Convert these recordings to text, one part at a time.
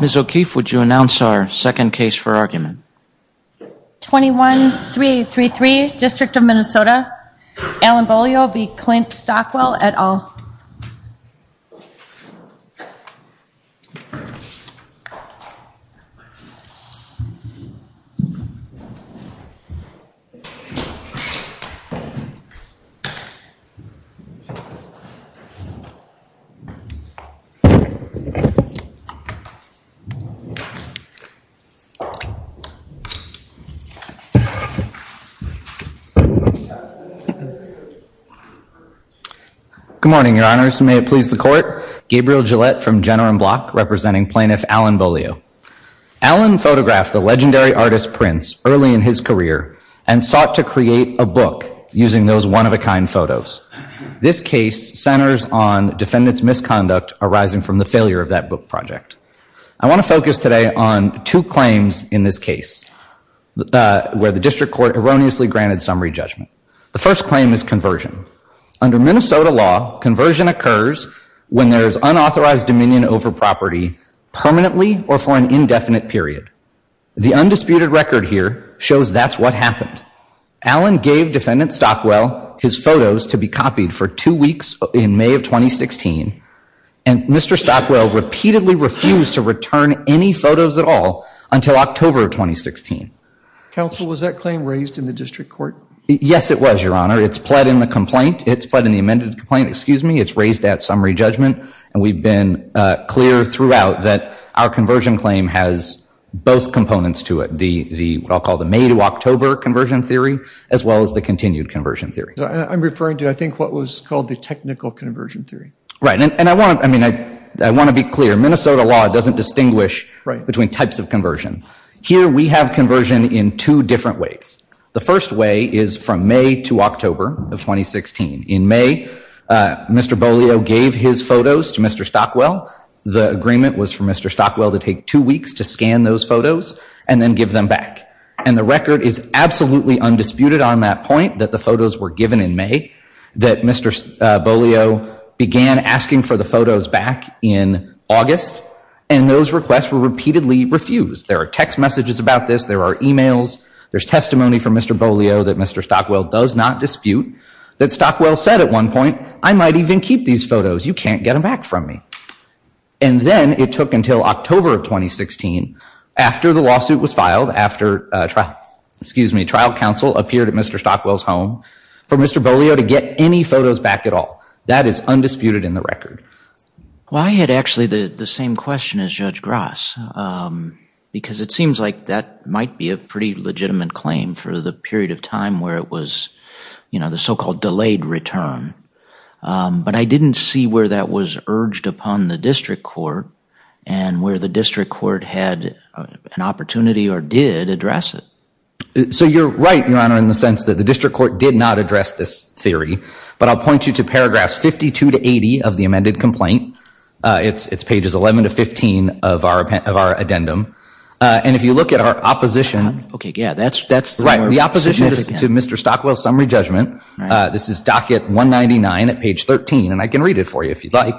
Ms. O'Keefe, would you announce our second case for argument? 21-3833, District of Minnesota, Allen Beaulieu v. Clint Stockwell, et al. Good morning, your honors. May it please the court. Gabriel Gillette from General & Block, representing Plaintiff Allen Beaulieu. Allen photographed the legendary artist Prince early in his career and sought to create a book using those one-of-a-kind photos. This case centers on defendant's misconduct arising from the failure of that book project. I want to focus today on two claims in this case where the district court erroneously granted summary judgment. The first claim is conversion. Under Minnesota law, conversion occurs when there is unauthorized dominion over property permanently or for an indefinite period. The undisputed record here shows that's what happened. Allen gave defendant Stockwell his photos to be copied for two weeks in May of 2016, and Mr. Stockwell repeatedly refused to return any photos at all until October of 2016. Counsel, was that claim raised in the district court? Yes, it was, your honor. It's pled in the complaint. It's pled in the amended complaint, excuse me. It's raised at summary judgment, and we've been clear throughout that our conversion claim has both components to it. The, what I'll call the May to October conversion theory, as well as the continued conversion theory. I'm referring to, I think, what was called the technical conversion theory. Right, and I want to be clear. Minnesota law doesn't distinguish between types of conversion. Here we have conversion in two different ways. The first way is from May to October of 2016. In May, Mr. Bolio gave his photos to Mr. Stockwell. The agreement was for Mr. Stockwell to take two weeks to scan those photos and then give them back. And the record is absolutely undisputed on that point, that the photos were given in May, that Mr. Bolio began asking for the photos back in August, and those requests were repeatedly refused. There are text messages about this. There are emails. There's testimony from Mr. Bolio that Mr. Stockwell does not dispute, that Stockwell said at one point, I might even keep these photos. You can't get them back from me. And then it took until October of 2016, after the lawsuit was filed, after trial, excuse me, trial counsel appeared at Mr. Stockwell's home, for Mr. Bolio to get any photos back at all. That is undisputed in the record. Well, I had actually the same question as Judge Grass, because it seems like that might be a pretty legitimate claim for the period of time where it was, you know, the so-called delayed return. But I didn't see where that was urged upon the district court and where the district court had an opportunity or did address it. So you're right, Your Honor, in the sense that the district court did not address this theory. But I'll point you to paragraphs 52 to 80 of the amended complaint. It's pages 11 to 15 of our addendum. And if you look at our opposition. Okay, yeah, that's more significant. If you listen to Mr. Stockwell's summary judgment, this is docket 199 at page 13, and I can read it for you if you'd like.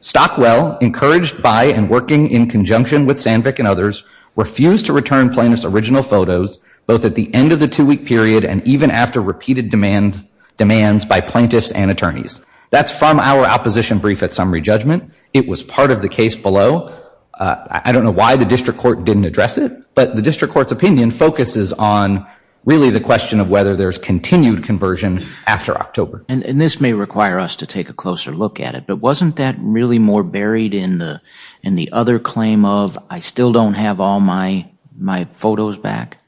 Stockwell, encouraged by and working in conjunction with Sandvik and others, refused to return plaintiffs' original photos both at the end of the two-week period and even after repeated demands by plaintiffs and attorneys. That's from our opposition brief at summary judgment. It was part of the case below. I don't know why the district court didn't address it, but the district court's opinion focuses on really the question of whether there's continued conversion after October. And this may require us to take a closer look at it, but wasn't that really more buried in the other claim of, I still don't have all my photos back?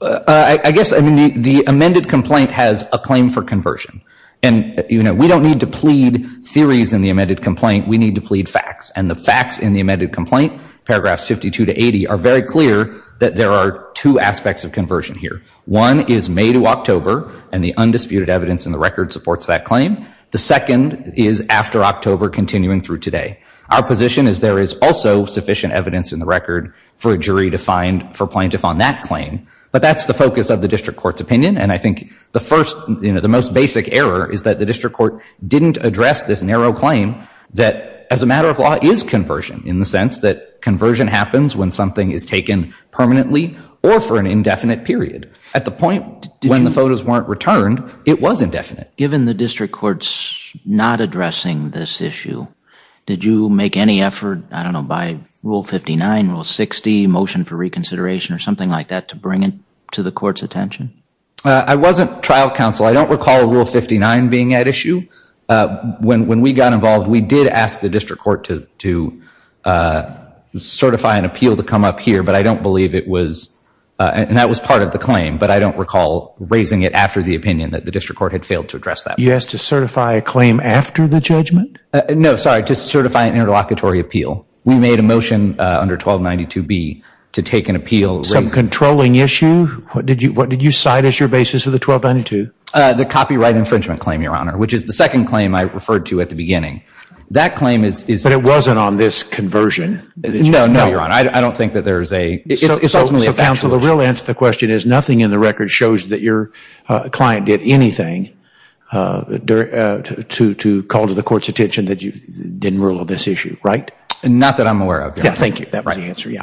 I guess the amended complaint has a claim for conversion. And we don't need to plead theories in the amended complaint. We need to plead facts. And the facts in the amended complaint, paragraphs 52 to 80, are very clear that there are two aspects of conversion here. One is May to October, and the undisputed evidence in the record supports that claim. The second is after October continuing through today. Our position is there is also sufficient evidence in the record for a jury to find for plaintiff on that claim. But that's the focus of the district court's opinion, and I think the first, you know, the most basic error is that the district court didn't address this narrow claim that, as a matter of law, is conversion, in the sense that conversion happens when something is taken permanently or for an indefinite period. At the point when the photos weren't returned, it was indefinite. Given the district court's not addressing this issue, did you make any effort, I don't know, by Rule 59, Rule 60, motion for reconsideration or something like that to bring it to the court's attention? I wasn't trial counsel. I don't recall Rule 59 being at issue. When we got involved, we did ask the district court to certify an appeal to come up here, but I don't believe it was, and that was part of the claim, but I don't recall raising it after the opinion that the district court had failed to address that. You asked to certify a claim after the judgment? No, sorry, to certify an interlocutory appeal. We made a motion under 1292B to take an appeal. Some controlling issue? What did you cite as your basis of the 1292? The copyright infringement claim, Your Honor, which is the second claim I referred to at the beginning. That claim is... But it wasn't on this conversion? No, Your Honor, I don't think that there's a... So, counsel, the real answer to the question is nothing in the record shows that your client did anything to call to the court's attention that you didn't rule on this issue, right? Not that I'm aware of, Your Honor. Thank you, that was the answer, yeah.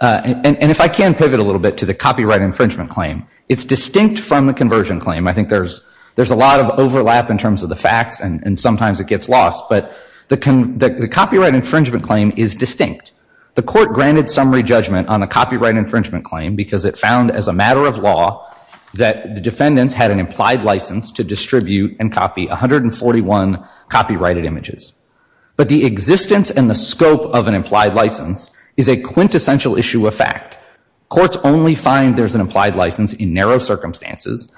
And if I can pivot a little bit to the copyright infringement claim, it's distinct from the conversion claim. I think there's a lot of overlap in terms of the facts, and sometimes it gets lost, but the copyright infringement claim is distinct. The court granted summary judgment on the copyright infringement claim because it found, as a matter of law, that the defendants had an implied license to distribute and copy 141 copyrighted images. But the existence and the scope of an implied license is a quintessential issue of fact. Courts only find there's an implied license in narrow circumstances,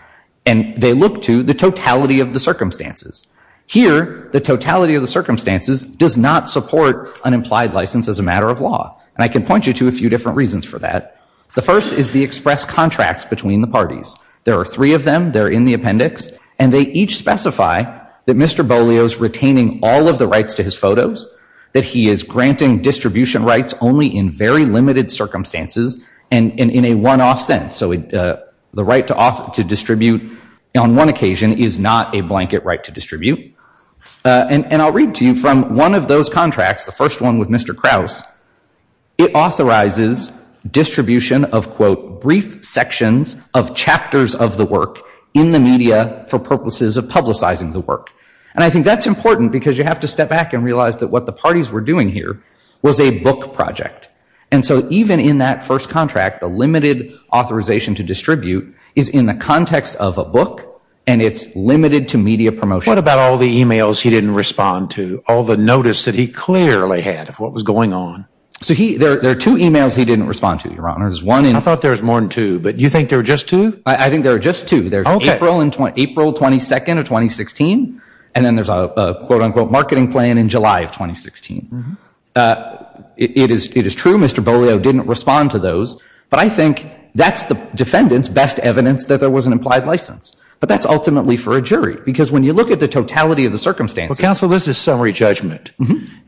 and they look to the totality of the circumstances. Here, the totality of the circumstances does not support an implied license as a matter of law. And I can point you to a few different reasons for that. The first is the express contracts between the parties. There are three of them, they're in the appendix, and they each specify that Mr. Bolio's retaining all of the rights to his photos, that he is granting distribution rights only in very limited circumstances, and in a one-off sentence. So the right to distribute on one occasion is not a blanket right to distribute. And I'll read to you from one of those contracts, the first one with Mr. Krause. It authorizes distribution of, quote, brief sections of chapters of the work in the media for purposes of publicizing the work. And I think that's important because you have to step back and realize that what the parties were doing here was a book project. And so even in that first contract, the limited authorization to distribute is in the context of a book, and it's limited to media promotion. What about all the e-mails he didn't respond to, all the notice that he clearly had of what was going on? So there are two e-mails he didn't respond to, Your Honor. I thought there was more than two, but you think there were just two? I think there were just two. There's April 22nd of 2016, and then there's a, quote, unquote, marketing plan in July of 2016. It is true Mr. Beaulieu didn't respond to those, but I think that's the defendant's best evidence that there was an implied license. But that's ultimately for a jury because when you look at the totality of the circumstances. Well, counsel, this is summary judgment.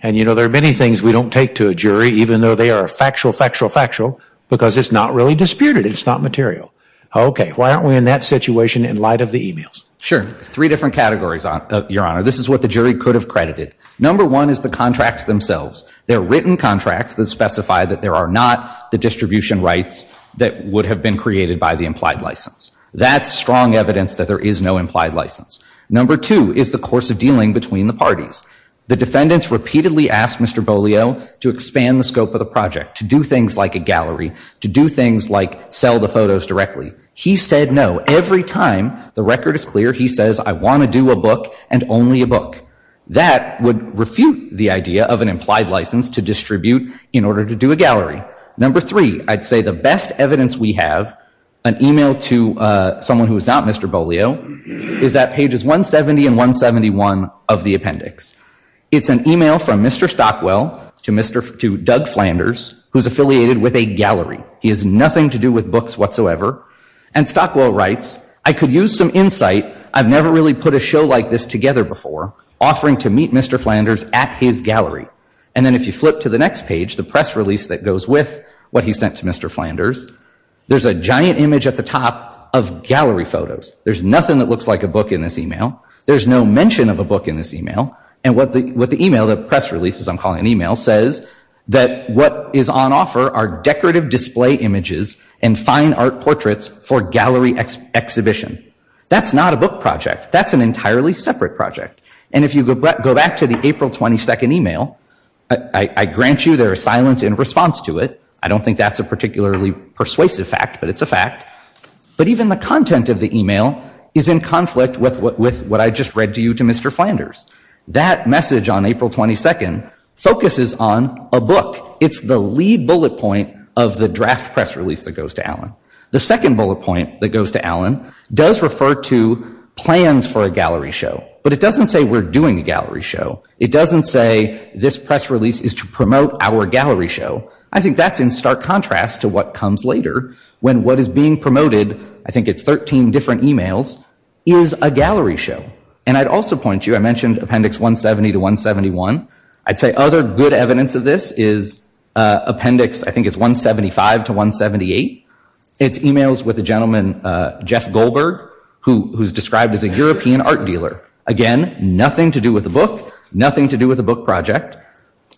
And, you know, there are many things we don't take to a jury, even though they are factual, factual, factual, because it's not really disputed. It's not material. Okay. Why aren't we in that situation in light of the e-mails? Sure. Three different categories, Your Honor. This is what the jury could have credited. Number one is the contracts themselves. They're written contracts that specify that there are not the distribution rights that would have been created by the implied license. That's strong evidence that there is no implied license. Number two is the course of dealing between the parties. The defendants repeatedly asked Mr. Beaulieu to expand the scope of the project, to do things like a gallery, to do things like sell the photos directly. He said no. Every time the record is clear, he says, I want to do a book and only a book. That would refute the idea of an implied license to distribute in order to do a gallery. Number three, I'd say the best evidence we have, an e-mail to someone who is not Mr. Beaulieu, is at pages 170 and 171 of the appendix. It's an e-mail from Mr. Stockwell to Doug Flanders, who's affiliated with a gallery. He has nothing to do with books whatsoever. And Stockwell writes, I could use some insight. I've never really put a show like this together before. Offering to meet Mr. Flanders at his gallery. And then if you flip to the next page, the press release that goes with what he sent to Mr. Flanders, there's a giant image at the top of gallery photos. There's nothing that looks like a book in this e-mail. There's no mention of a book in this e-mail. And what the e-mail, the press releases I'm calling an e-mail, says that what is on offer are decorative display images and fine art portraits for gallery exhibition. That's not a book project. That's an entirely separate project. And if you go back to the April 22nd e-mail, I grant you there is silence in response to it. I don't think that's a particularly persuasive fact, but it's a fact. But even the content of the e-mail is in conflict with what I just read to you to Mr. Flanders. That message on April 22nd focuses on a book. It's the lead bullet point of the draft press release that goes to Allen. The second bullet point that goes to Allen does refer to plans for a gallery show. But it doesn't say we're doing a gallery show. It doesn't say this press release is to promote our gallery show. I think that's in stark contrast to what comes later when what is being promoted, I think it's 13 different e-mails, is a gallery show. And I'd also point you, I mentioned Appendix 170 to 171. I'd say other good evidence of this is Appendix, I think it's 175 to 178. It's e-mails with a gentleman, Jeff Goldberg, who's described as a European art dealer. Again, nothing to do with the book, nothing to do with the book project.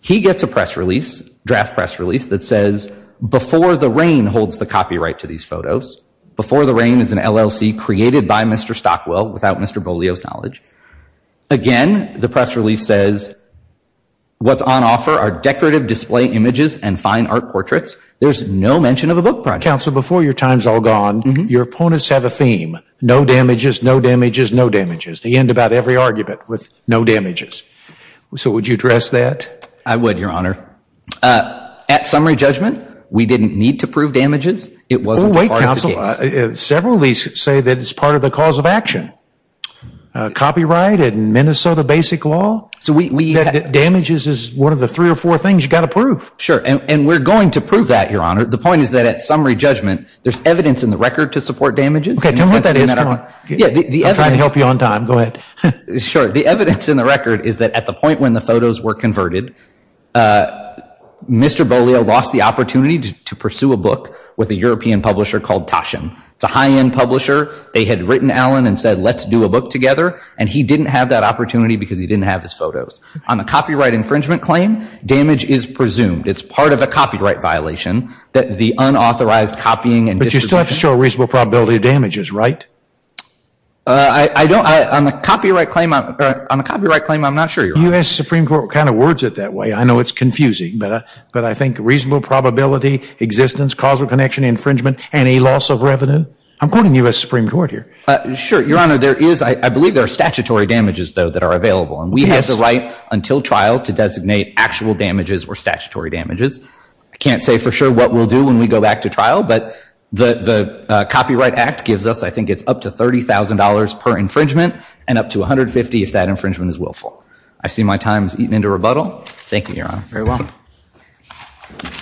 He gets a press release, draft press release, that says, before the rain holds the copyright to these photos. Before the rain is an LLC created by Mr. Stockwell without Mr. Beaulieu's knowledge. Again, the press release says, what's on offer are decorative display images and fine art portraits. There's no mention of a book project. Counsel, before your time's all gone, your opponents have a theme. No damages, no damages, no damages. They end about every argument with no damages. So would you address that? I would, Your Honor. At summary judgment, we didn't need to prove damages. It wasn't part of the case. Wait, counsel. Several of these say that it's part of the cause of action. Copyright and Minnesota basic law. Damages is one of the three or four things you've got to prove. Sure. And we're going to prove that, Your Honor. The point is that at summary judgment, there's evidence in the record to support damages. Okay. Tell me what that is. I'm trying to help you on time. Go ahead. Sure. The evidence in the record is that at the point when the photos were converted, Mr. Beaulieu lost the opportunity to pursue a book with a European publisher called Taschen. It's a high-end publisher. They had written Allen and said, let's do a book together. And he didn't have that opportunity because he didn't have his photos. On the copyright infringement claim, damage is presumed. It's part of a copyright violation that the unauthorized copying and distribution. But you still have to show a reasonable probability of damages, right? I don't. On the copyright claim, I'm not sure, Your Honor. U.S. Supreme Court kind of words it that way. I know it's confusing, but I think reasonable probability, existence, causal connection, infringement, any loss of revenue. I'm quoting U.S. Supreme Court here. Sure, Your Honor. There is. I believe there are statutory damages, though, that are available. And we have the right until trial to designate actual damages or statutory damages. I can't say for sure what we'll do when we go back to trial, but the Copyright Act gives us, I think it's up to $30,000 per infringement and up to $150,000 if that infringement is willful. I see my time has eaten into rebuttal. Thank you, Your Honor. Very well. Thank you.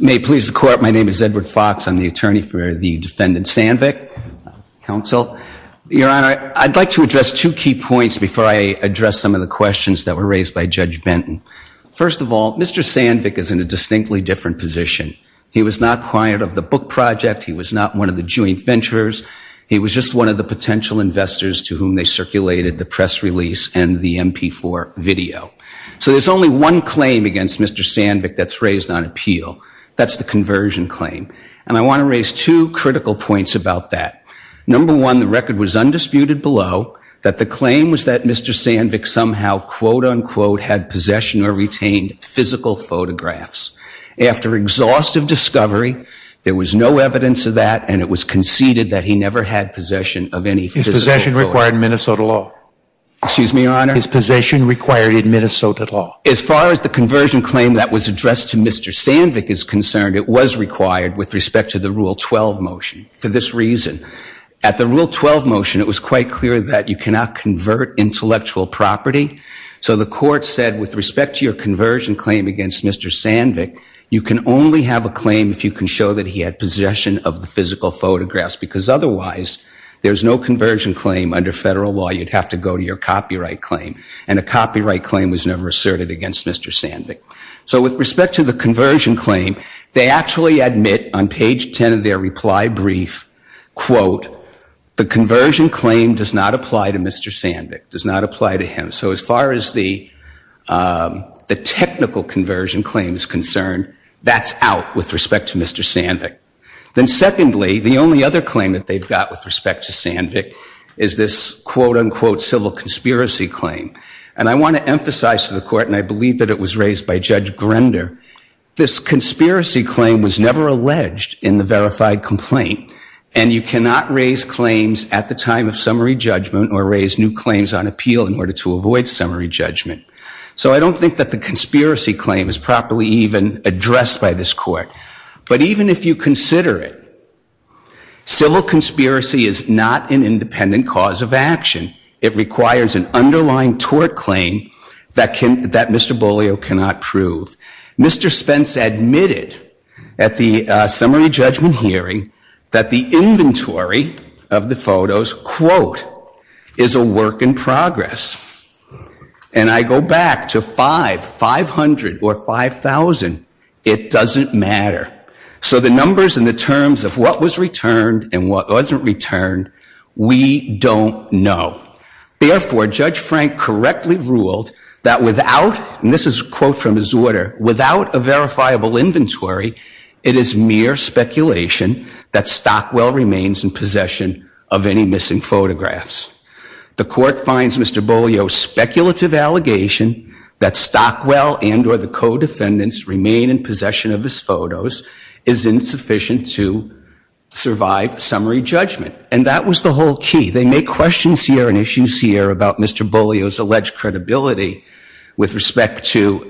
May it please the Court, my name is Edward Fox. I'm the attorney for the defendant Sandvik, counsel. Your Honor, I'd like to address two key points before I address some of the questions that were raised by Judge Benton. First of all, Mr. Sandvik is in a distinctly different position. He was not client of the book project. He was not one of the joint ventures. He was just one of the potential investors to whom they circulated the press release and the MP4 video. So there's only one claim against Mr. Sandvik that's raised on appeal. That's the conversion claim. And I want to raise two critical points about that. Number one, the record was undisputed below that the claim was that Mr. Sandvik somehow, quote, unquote, had possession or retained physical photographs. After exhaustive discovery, there was no evidence of that and it was conceded that he never had possession of any physical photographs. His possession required Minnesota law. Excuse me, Your Honor? His possession required Minnesota law. As far as the conversion claim that was addressed to Mr. Sandvik is concerned, it was required with respect to the Rule 12 motion. For this reason, at the Rule 12 motion, it was quite clear that you cannot convert intellectual property. So the court said with respect to your conversion claim against Mr. Sandvik, you can only have a claim if you can show that he had possession of the physical photographs. Because otherwise, there's no conversion claim under federal law. You'd have to go to your copyright claim. And a copyright claim was never asserted against Mr. Sandvik. So with respect to the conversion claim, they actually admit on page 10 of their reply brief, quote, the conversion claim does not apply to Mr. Sandvik, does not apply to him. So as far as the technical conversion claim is concerned, that's out with respect to Mr. Sandvik. Then secondly, the only other claim that they've got with respect to Sandvik is this, quote, unquote, civil conspiracy claim. And I want to emphasize to the court, and I believe that it was raised by Judge Grender, this conspiracy claim was never alleged in the verified complaint. And you cannot raise claims at the time of summary judgment or raise new claims on appeal in order to avoid summary judgment. So I don't think that the conspiracy claim is properly even addressed by this court. But even if you consider it, civil conspiracy is not an independent cause of action. It requires an underlying tort claim that Mr. Beaulieu cannot prove. Mr. Spence admitted at the summary judgment hearing that the inventory of the photos, quote, is a work in progress. And I go back to five, 500 or 5,000, it doesn't matter. So the numbers and the terms of what was returned and what wasn't returned, we don't know. Therefore, Judge Frank correctly ruled that without, and this is a quote from his order, without a verifiable inventory, it is mere speculation that Stockwell remains in possession of any missing photographs. The court finds Mr. Beaulieu's speculative allegation that Stockwell and or the co-defendants remain in possession of his photos is insufficient to survive summary judgment. And that was the whole key. They make questions here and issues here about Mr. Beaulieu's alleged credibility with respect to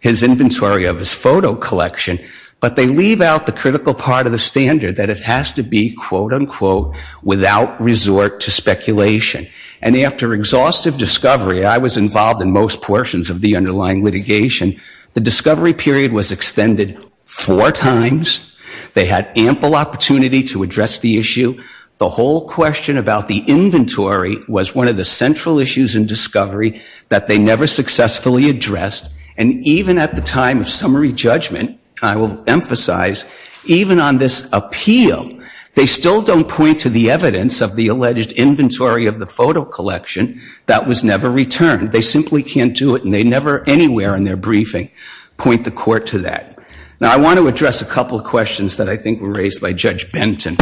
his inventory of his photo collection. But they leave out the critical part of the standard that it has to be, quote, unquote, without resort to speculation. And after exhaustive discovery, I was involved in most portions of the underlying litigation, the discovery period was extended four times. They had ample opportunity to address the issue. The whole question about the inventory was one of the central issues in discovery that they never successfully addressed. And even at the time of summary judgment, I will emphasize, even on this appeal, they still don't point to the evidence of the alleged inventory of the photo collection that was never returned. They simply can't do it and they never anywhere in their briefing point the court to that. Now, I want to address a couple of questions that I think were raised by Judge Benton.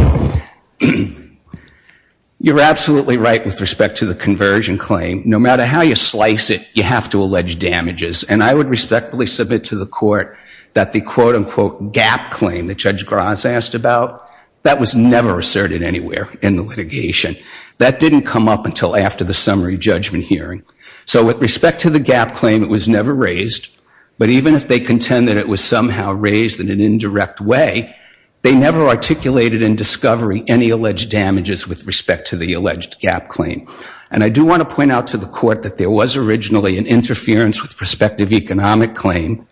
You're absolutely right with respect to the conversion claim. No matter how you slice it, you have to allege damages. And I would respectfully submit to the court that the, quote, unquote, gap claim that Judge Gras asked about, that was never asserted anywhere in the litigation. That didn't come up until after the summary judgment hearing. So with respect to the gap claim, it was never raised. But even if they contend that it was somehow raised in an indirect way, they never articulated in discovery any alleged damages with respect to the alleged gap claim. And I do want to point out to the court that there was originally an interference with prospective economic claim,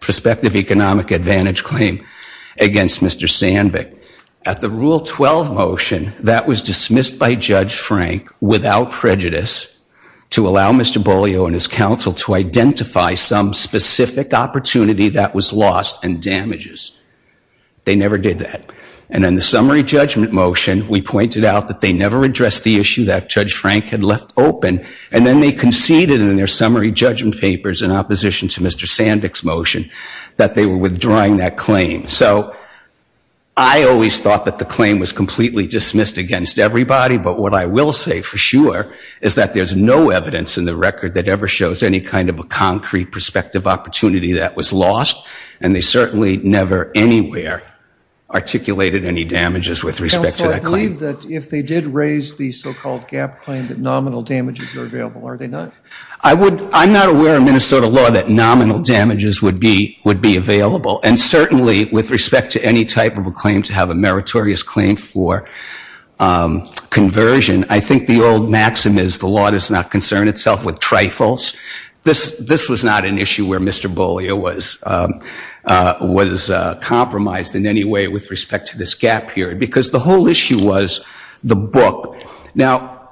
prospective economic advantage claim against Mr. Sandvik. At the Rule 12 motion, that was dismissed by Judge Frank without prejudice to allow Mr. Bolio and his counsel to identify some specific opportunity that was lost and damages. They never did that. And in the summary judgment motion, we pointed out that they never addressed the issue that Judge Frank had left open. And then they conceded in their summary judgment papers in opposition to Mr. Sandvik's motion that they were withdrawing that claim. So I always thought that the claim was completely dismissed against everybody. But what I will say for sure is that there's no evidence in the record that ever shows any kind of a concrete prospective opportunity that was lost. And they certainly never anywhere articulated any damages with respect to that claim. Counselor, I believe that if they did raise the so-called gap claim, that nominal damages are available. Are they not? I'm not aware of Minnesota law that nominal damages would be available. And certainly, with respect to any type of a claim to have a meritorious claim for conversion, I think the old maxim is the law does not concern itself with trifles. This was not an issue where Mr. Bollier was compromised in any way with respect to this gap period. Because the whole issue was the book. Now,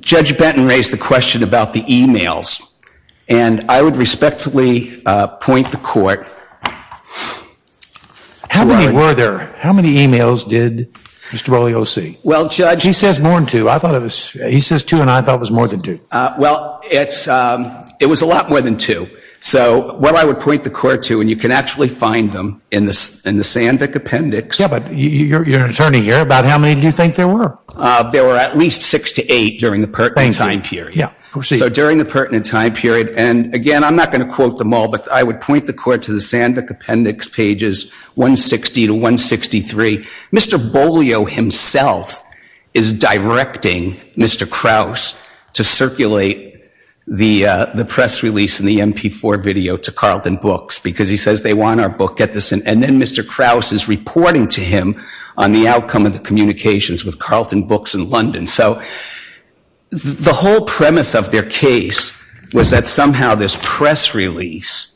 Judge Benton raised the question about the e-mails. And I would respectfully point the court. How many were there? How many e-mails did Mr. Bollier see? Well, Judge. He says more than two. He says two, and I thought it was more than two. Well, it was a lot more than two. So what I would point the court to, and you can actually find them in the Sandvik appendix. Yeah, but you're an attorney here. About how many do you think there were? There were at least six to eight during the pertinent time period. Yeah. So during the pertinent time period. And, again, I'm not going to quote them all. But I would point the court to the Sandvik appendix pages 160 to 163. Mr. Bollier himself is directing Mr. Kraus to circulate the press release and the MP4 video to Carleton Books. Because he says they want our book. And then Mr. Kraus is reporting to him on the outcome of the communications with Carleton Books in London. So the whole premise of their case was that somehow this press release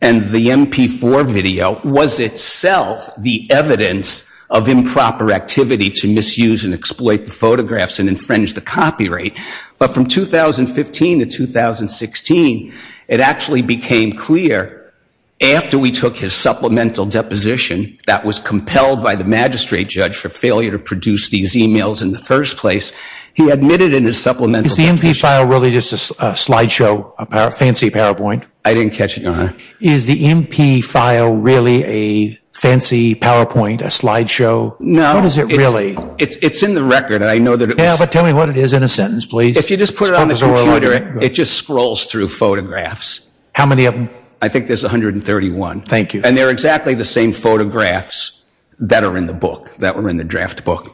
and the MP4 video was itself the evidence of improper activity to misuse and exploit the photographs and infringe the copyright. But from 2015 to 2016, it actually became clear after we took his supplemental deposition that was compelled by the magistrate judge for failure to produce these e-mails in the first place, he admitted in his supplemental deposition. Is the MP file really just a slideshow, a fancy PowerPoint? I didn't catch it, Your Honor. Is the MP file really a fancy PowerPoint, a slideshow? No. What is it really? It's in the record. Tell me what it is in a sentence, please. If you just put it on the computer, it just scrolls through photographs. How many of them? I think there's 131. Thank you. And they're exactly the same photographs that are in the book, that were in the draft book.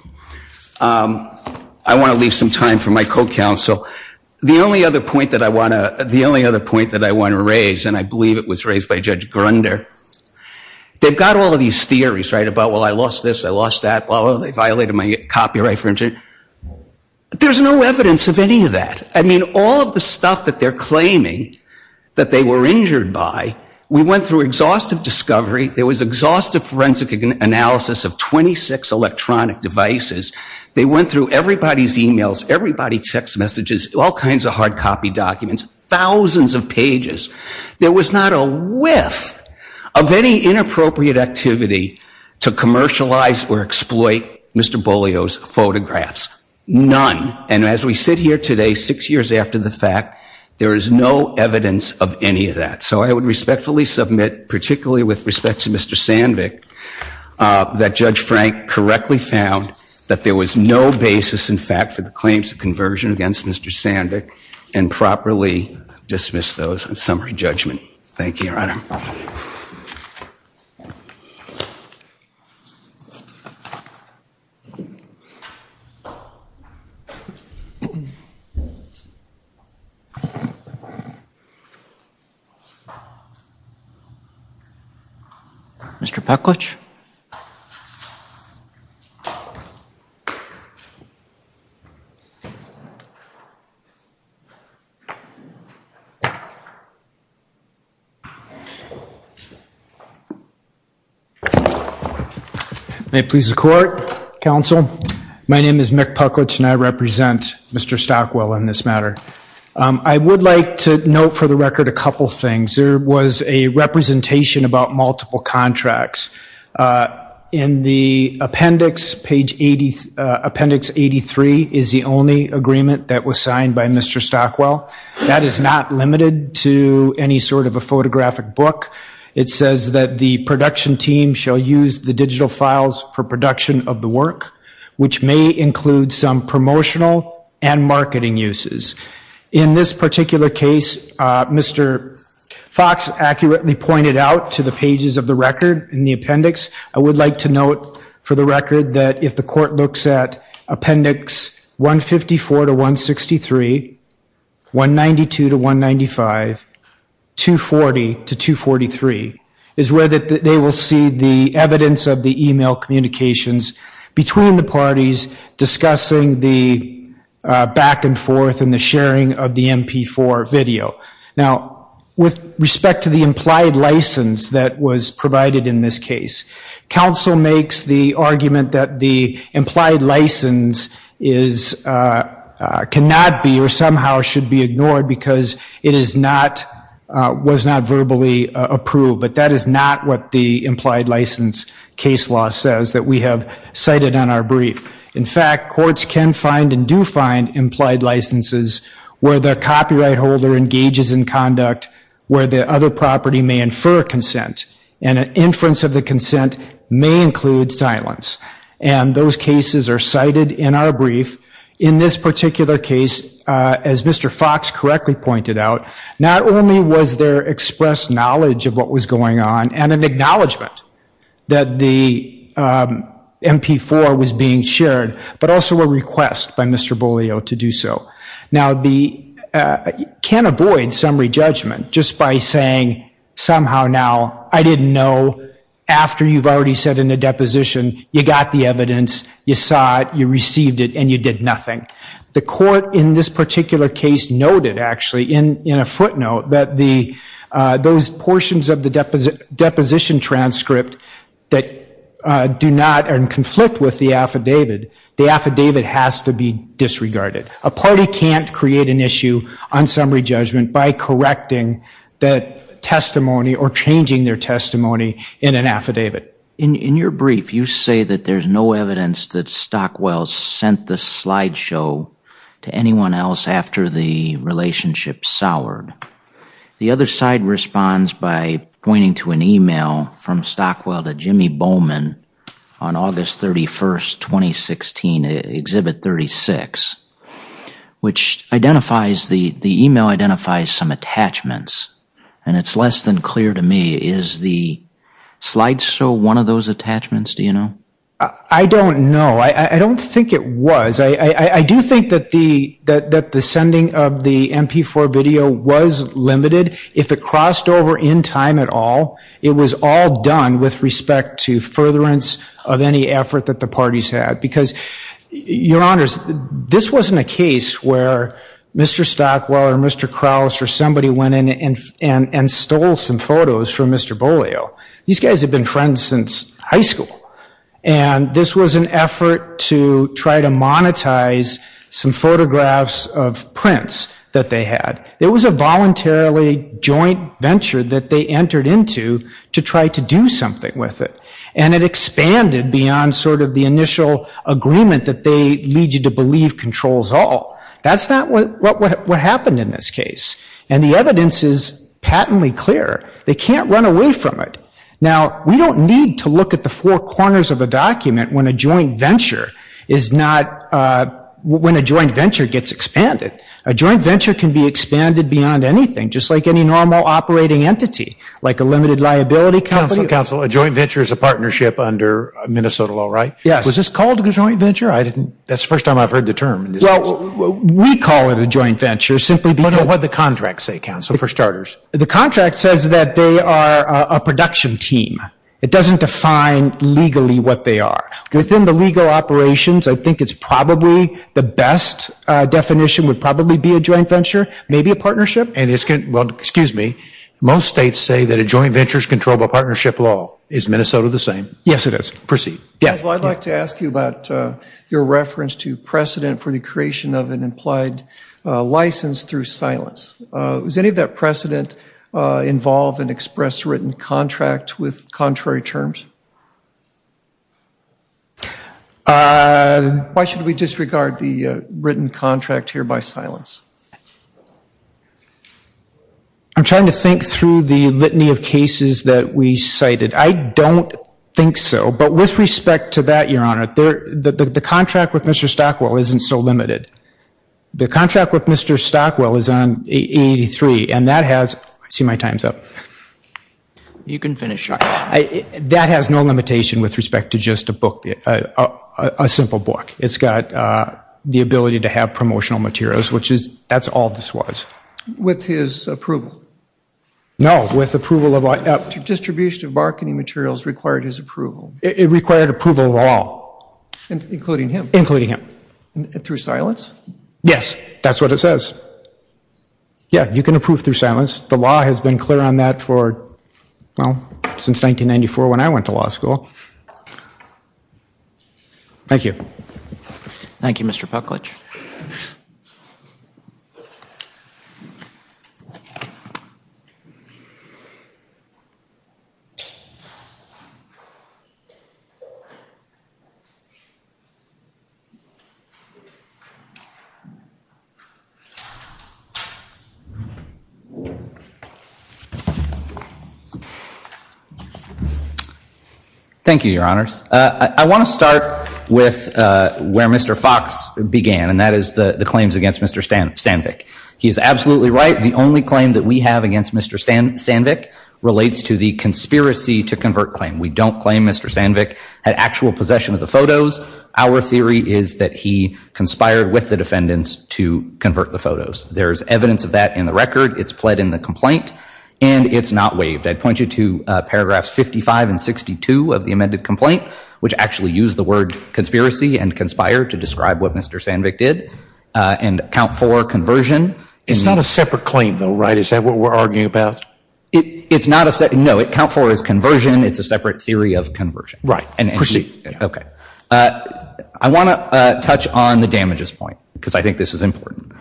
I want to leave some time for my co-counsel. The only other point that I want to raise, and I believe it was raised by Judge Grunder, they've got all of these theories, right, about, well, I lost this, I lost that, well, they violated my copyright infringement. There's no evidence of any of that. I mean, all of the stuff that they're claiming that they were injured by, we went through exhaustive discovery. There was exhaustive forensic analysis of 26 electronic devices. They went through everybody's e-mails, everybody's text messages, all kinds of hard copy documents, thousands of pages. There was not a whiff of any inappropriate activity to commercialize or exploit Mr. Bolio's photographs. None. And as we sit here today, six years after the fact, there is no evidence of any of that. So I would respectfully submit, particularly with respect to Mr. Sandvik, that Judge Frank correctly found that there was no basis, in fact, for the claims of conversion against Mr. Sandvik, and properly dismissed those on summary judgment. Thank you. Mr. Pucklidge? May it please the Court, Counsel, my name is Mick Pucklidge, and I represent Mr. Stockwell on this matter. I would like to note for the record a couple things. There was a representation about multiple contracts. In the appendix, page 83, is the only agreement that was signed by Mr. Stockwell. That is not limited to any sort of a photographic book. It says that the production team shall use the digital files for production of the work, which may include some promotional and marketing uses. In this particular case, Mr. Fox accurately pointed out to the pages of the record in the appendix, I would like to note for the record that if the Court looks at appendix 154 to 163, 192 to 195, 240 to 243, is where they will see the evidence of the email communications between the parties discussing the back and forth and the sharing of the MP4 video. Now, with respect to the implied license that was provided in this case, counsel makes the argument that the implied license cannot be or somehow should be ignored because it was not verbally approved. But that is not what the implied license case law says that we have cited on our brief. In fact, courts can find and do find implied licenses where the copyright holder engages in conduct where the other property may infer consent. And an inference of the consent may include silence. And those cases are cited in our brief. In this particular case, as Mr. Fox correctly pointed out, not only was there expressed knowledge of what was going on and an acknowledgment that the MP4 was being shared, but also a request by Mr. Beaulieu to do so. Now, you can't avoid summary judgment just by saying somehow now I didn't know after you've already said in a deposition, you got the evidence, you saw it, you received it, and you did nothing. The court in this particular case noted actually in a footnote that those portions of the deposition transcript that do not and conflict with the affidavit, the affidavit has to be disregarded. A party can't create an issue on summary judgment by correcting the testimony or changing their testimony in an affidavit. In your brief, you say that there's no evidence that Stockwell sent the slideshow to anyone else after the relationship soured. The other side responds by pointing to an email from Stockwell to Jimmy Bowman on August 31, 2016, Exhibit 36, which identifies, the email identifies some attachments. And it's less than clear to me. Is the slideshow one of those attachments, do you know? I don't know. I don't think it was. I do think that the sending of the MP4 video was limited. If it crossed over in time at all, it was all done with respect to furtherance of any effort that the parties had. Because, your honors, this wasn't a case where Mr. Stockwell or Mr. Krauss or somebody went in and stole some photos from Mr. Bolio. These guys had been friends since high school. And this was an effort to try to monetize some photographs of prints that they had. It was a voluntarily joint venture that they entered into to try to do something with it. And it expanded beyond sort of the initial agreement that they lead you to believe controls all. That's not what happened in this case. And the evidence is patently clear. They can't run away from it. Now, we don't need to look at the four corners of a document when a joint venture gets expanded. A joint venture can be expanded beyond anything, just like any normal operating entity, like a limited liability company. So, counsel, a joint venture is a partnership under Minnesota law, right? Yes. Was this called a joint venture? That's the first time I've heard the term. Well, we call it a joint venture simply because What did the contract say, counsel, for starters? The contract says that they are a production team. It doesn't define legally what they are. Within the legal operations, I think it's probably the best definition would probably be a joint venture, maybe a partnership. Most states say that a joint venture is controlled by partnership law. Is Minnesota the same? Yes, it is. Proceed. Counsel, I'd like to ask you about your reference to precedent for the creation of an implied license through silence. Does any of that precedent involve an express written contract with contrary terms? Why should we disregard the written contract here by silence? I'm trying to think through the litany of cases that we cited. I don't think so. But with respect to that, Your Honor, the contract with Mr. Stockwell isn't so limited. The contract with Mr. Stockwell is on 883, and that has I see my time's up. You can finish up. That has no limitation with respect to just a book, a simple book. It's got the ability to have promotional materials, which is, that's all this was. With his approval? No, with approval of Distribution of marketing materials required his approval. It required approval of all. Including him? Including him. Through silence? Yes, that's what it says. Yeah, you can approve through silence. The law has been clear on that for, well, since 1994 when I went to law school. Thank you. Thank you, Mr. Pucklidge. Thank you, Your Honors. I want to start with where Mr. Fox began, and that is the claims against Mr. Sandvik. He is absolutely right. The only claim that we have against Mr. Sandvik relates to the conspiracy to convert claim. We don't claim Mr. Sandvik had actual possession of the photos. Our theory is that he conspired with the defendants to convert the photos. There is evidence of that in the record. It's pled in the complaint, and it's not waived. I'd point you to paragraphs 55 and 62 of the amended complaint, which actually use the word conspiracy and conspire to describe what Mr. Sandvik did, and count for conversion. It's not a separate claim, though, right? Is that what we're arguing about? It's not a separate, no. Count for is conversion. It's a separate theory of conversion. Right. Proceed. Okay. I want to touch on the damages point, because I think this is important.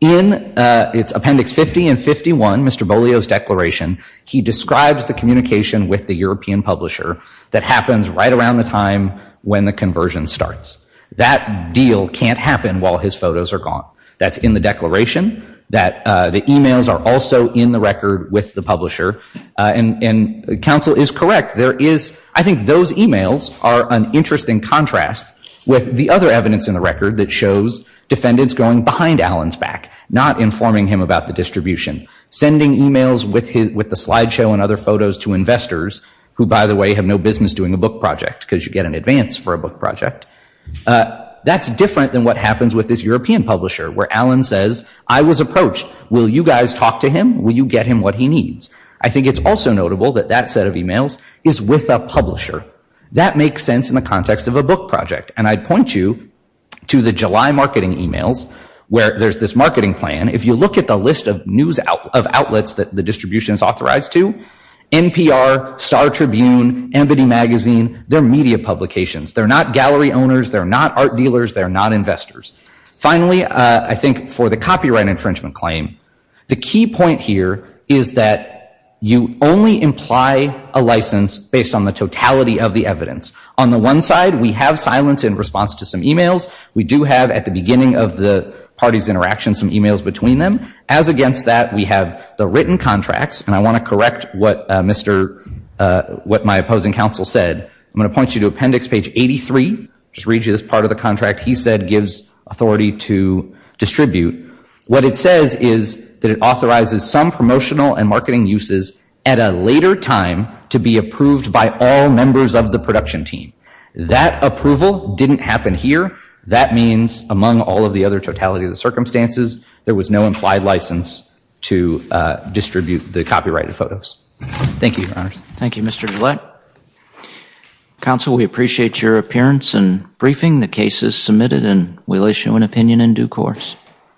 In appendix 50 and 51, Mr. Beaulieu's declaration, he describes the communication with the European publisher that happens right around the time when the conversion starts. That deal can't happen while his photos are gone. That's in the declaration. The e-mails are also in the record with the publisher. And counsel is correct. I think those e-mails are an interesting contrast with the other evidence in the record that shows defendants going behind Alan's back, not informing him about the distribution, sending e-mails with the slideshow and other photos to investors, who, by the way, have no business doing a book project, because you get an advance for a book project. That's different than what happens with this European publisher, where Alan says, I was approached. Will you guys talk to him? Will you get him what he needs? I think it's also notable that that set of e-mails is with a publisher. That makes sense in the context of a book project. And I'd point you to the July marketing e-mails, where there's this marketing plan. If you look at the list of outlets that the distribution is authorized to, NPR, Star Tribune, Amity Magazine, they're media publications. They're not gallery owners. They're not art dealers. They're not investors. Finally, I think for the copyright infringement claim, the key point here is that you only imply a license based on the totality of the evidence. On the one side, we have silence in response to some e-mails. We do have, at the beginning of the party's interaction, some e-mails between them. As against that, we have the written contracts. And I want to correct what my opposing counsel said. I'm going to point you to appendix page 83. Just read you this part of the contract. He said gives authority to distribute. What it says is that it authorizes some promotional and marketing uses at a later time to be approved by all members of the production team. That approval didn't happen here. That means, among all of the other totality of the circumstances, there was no implied license to distribute the copyrighted photos. Thank you, Your Honors. Thank you, Mr. DeLitt. Counsel, we appreciate your appearance and briefing. The case is submitted and we'll issue an opinion in due course.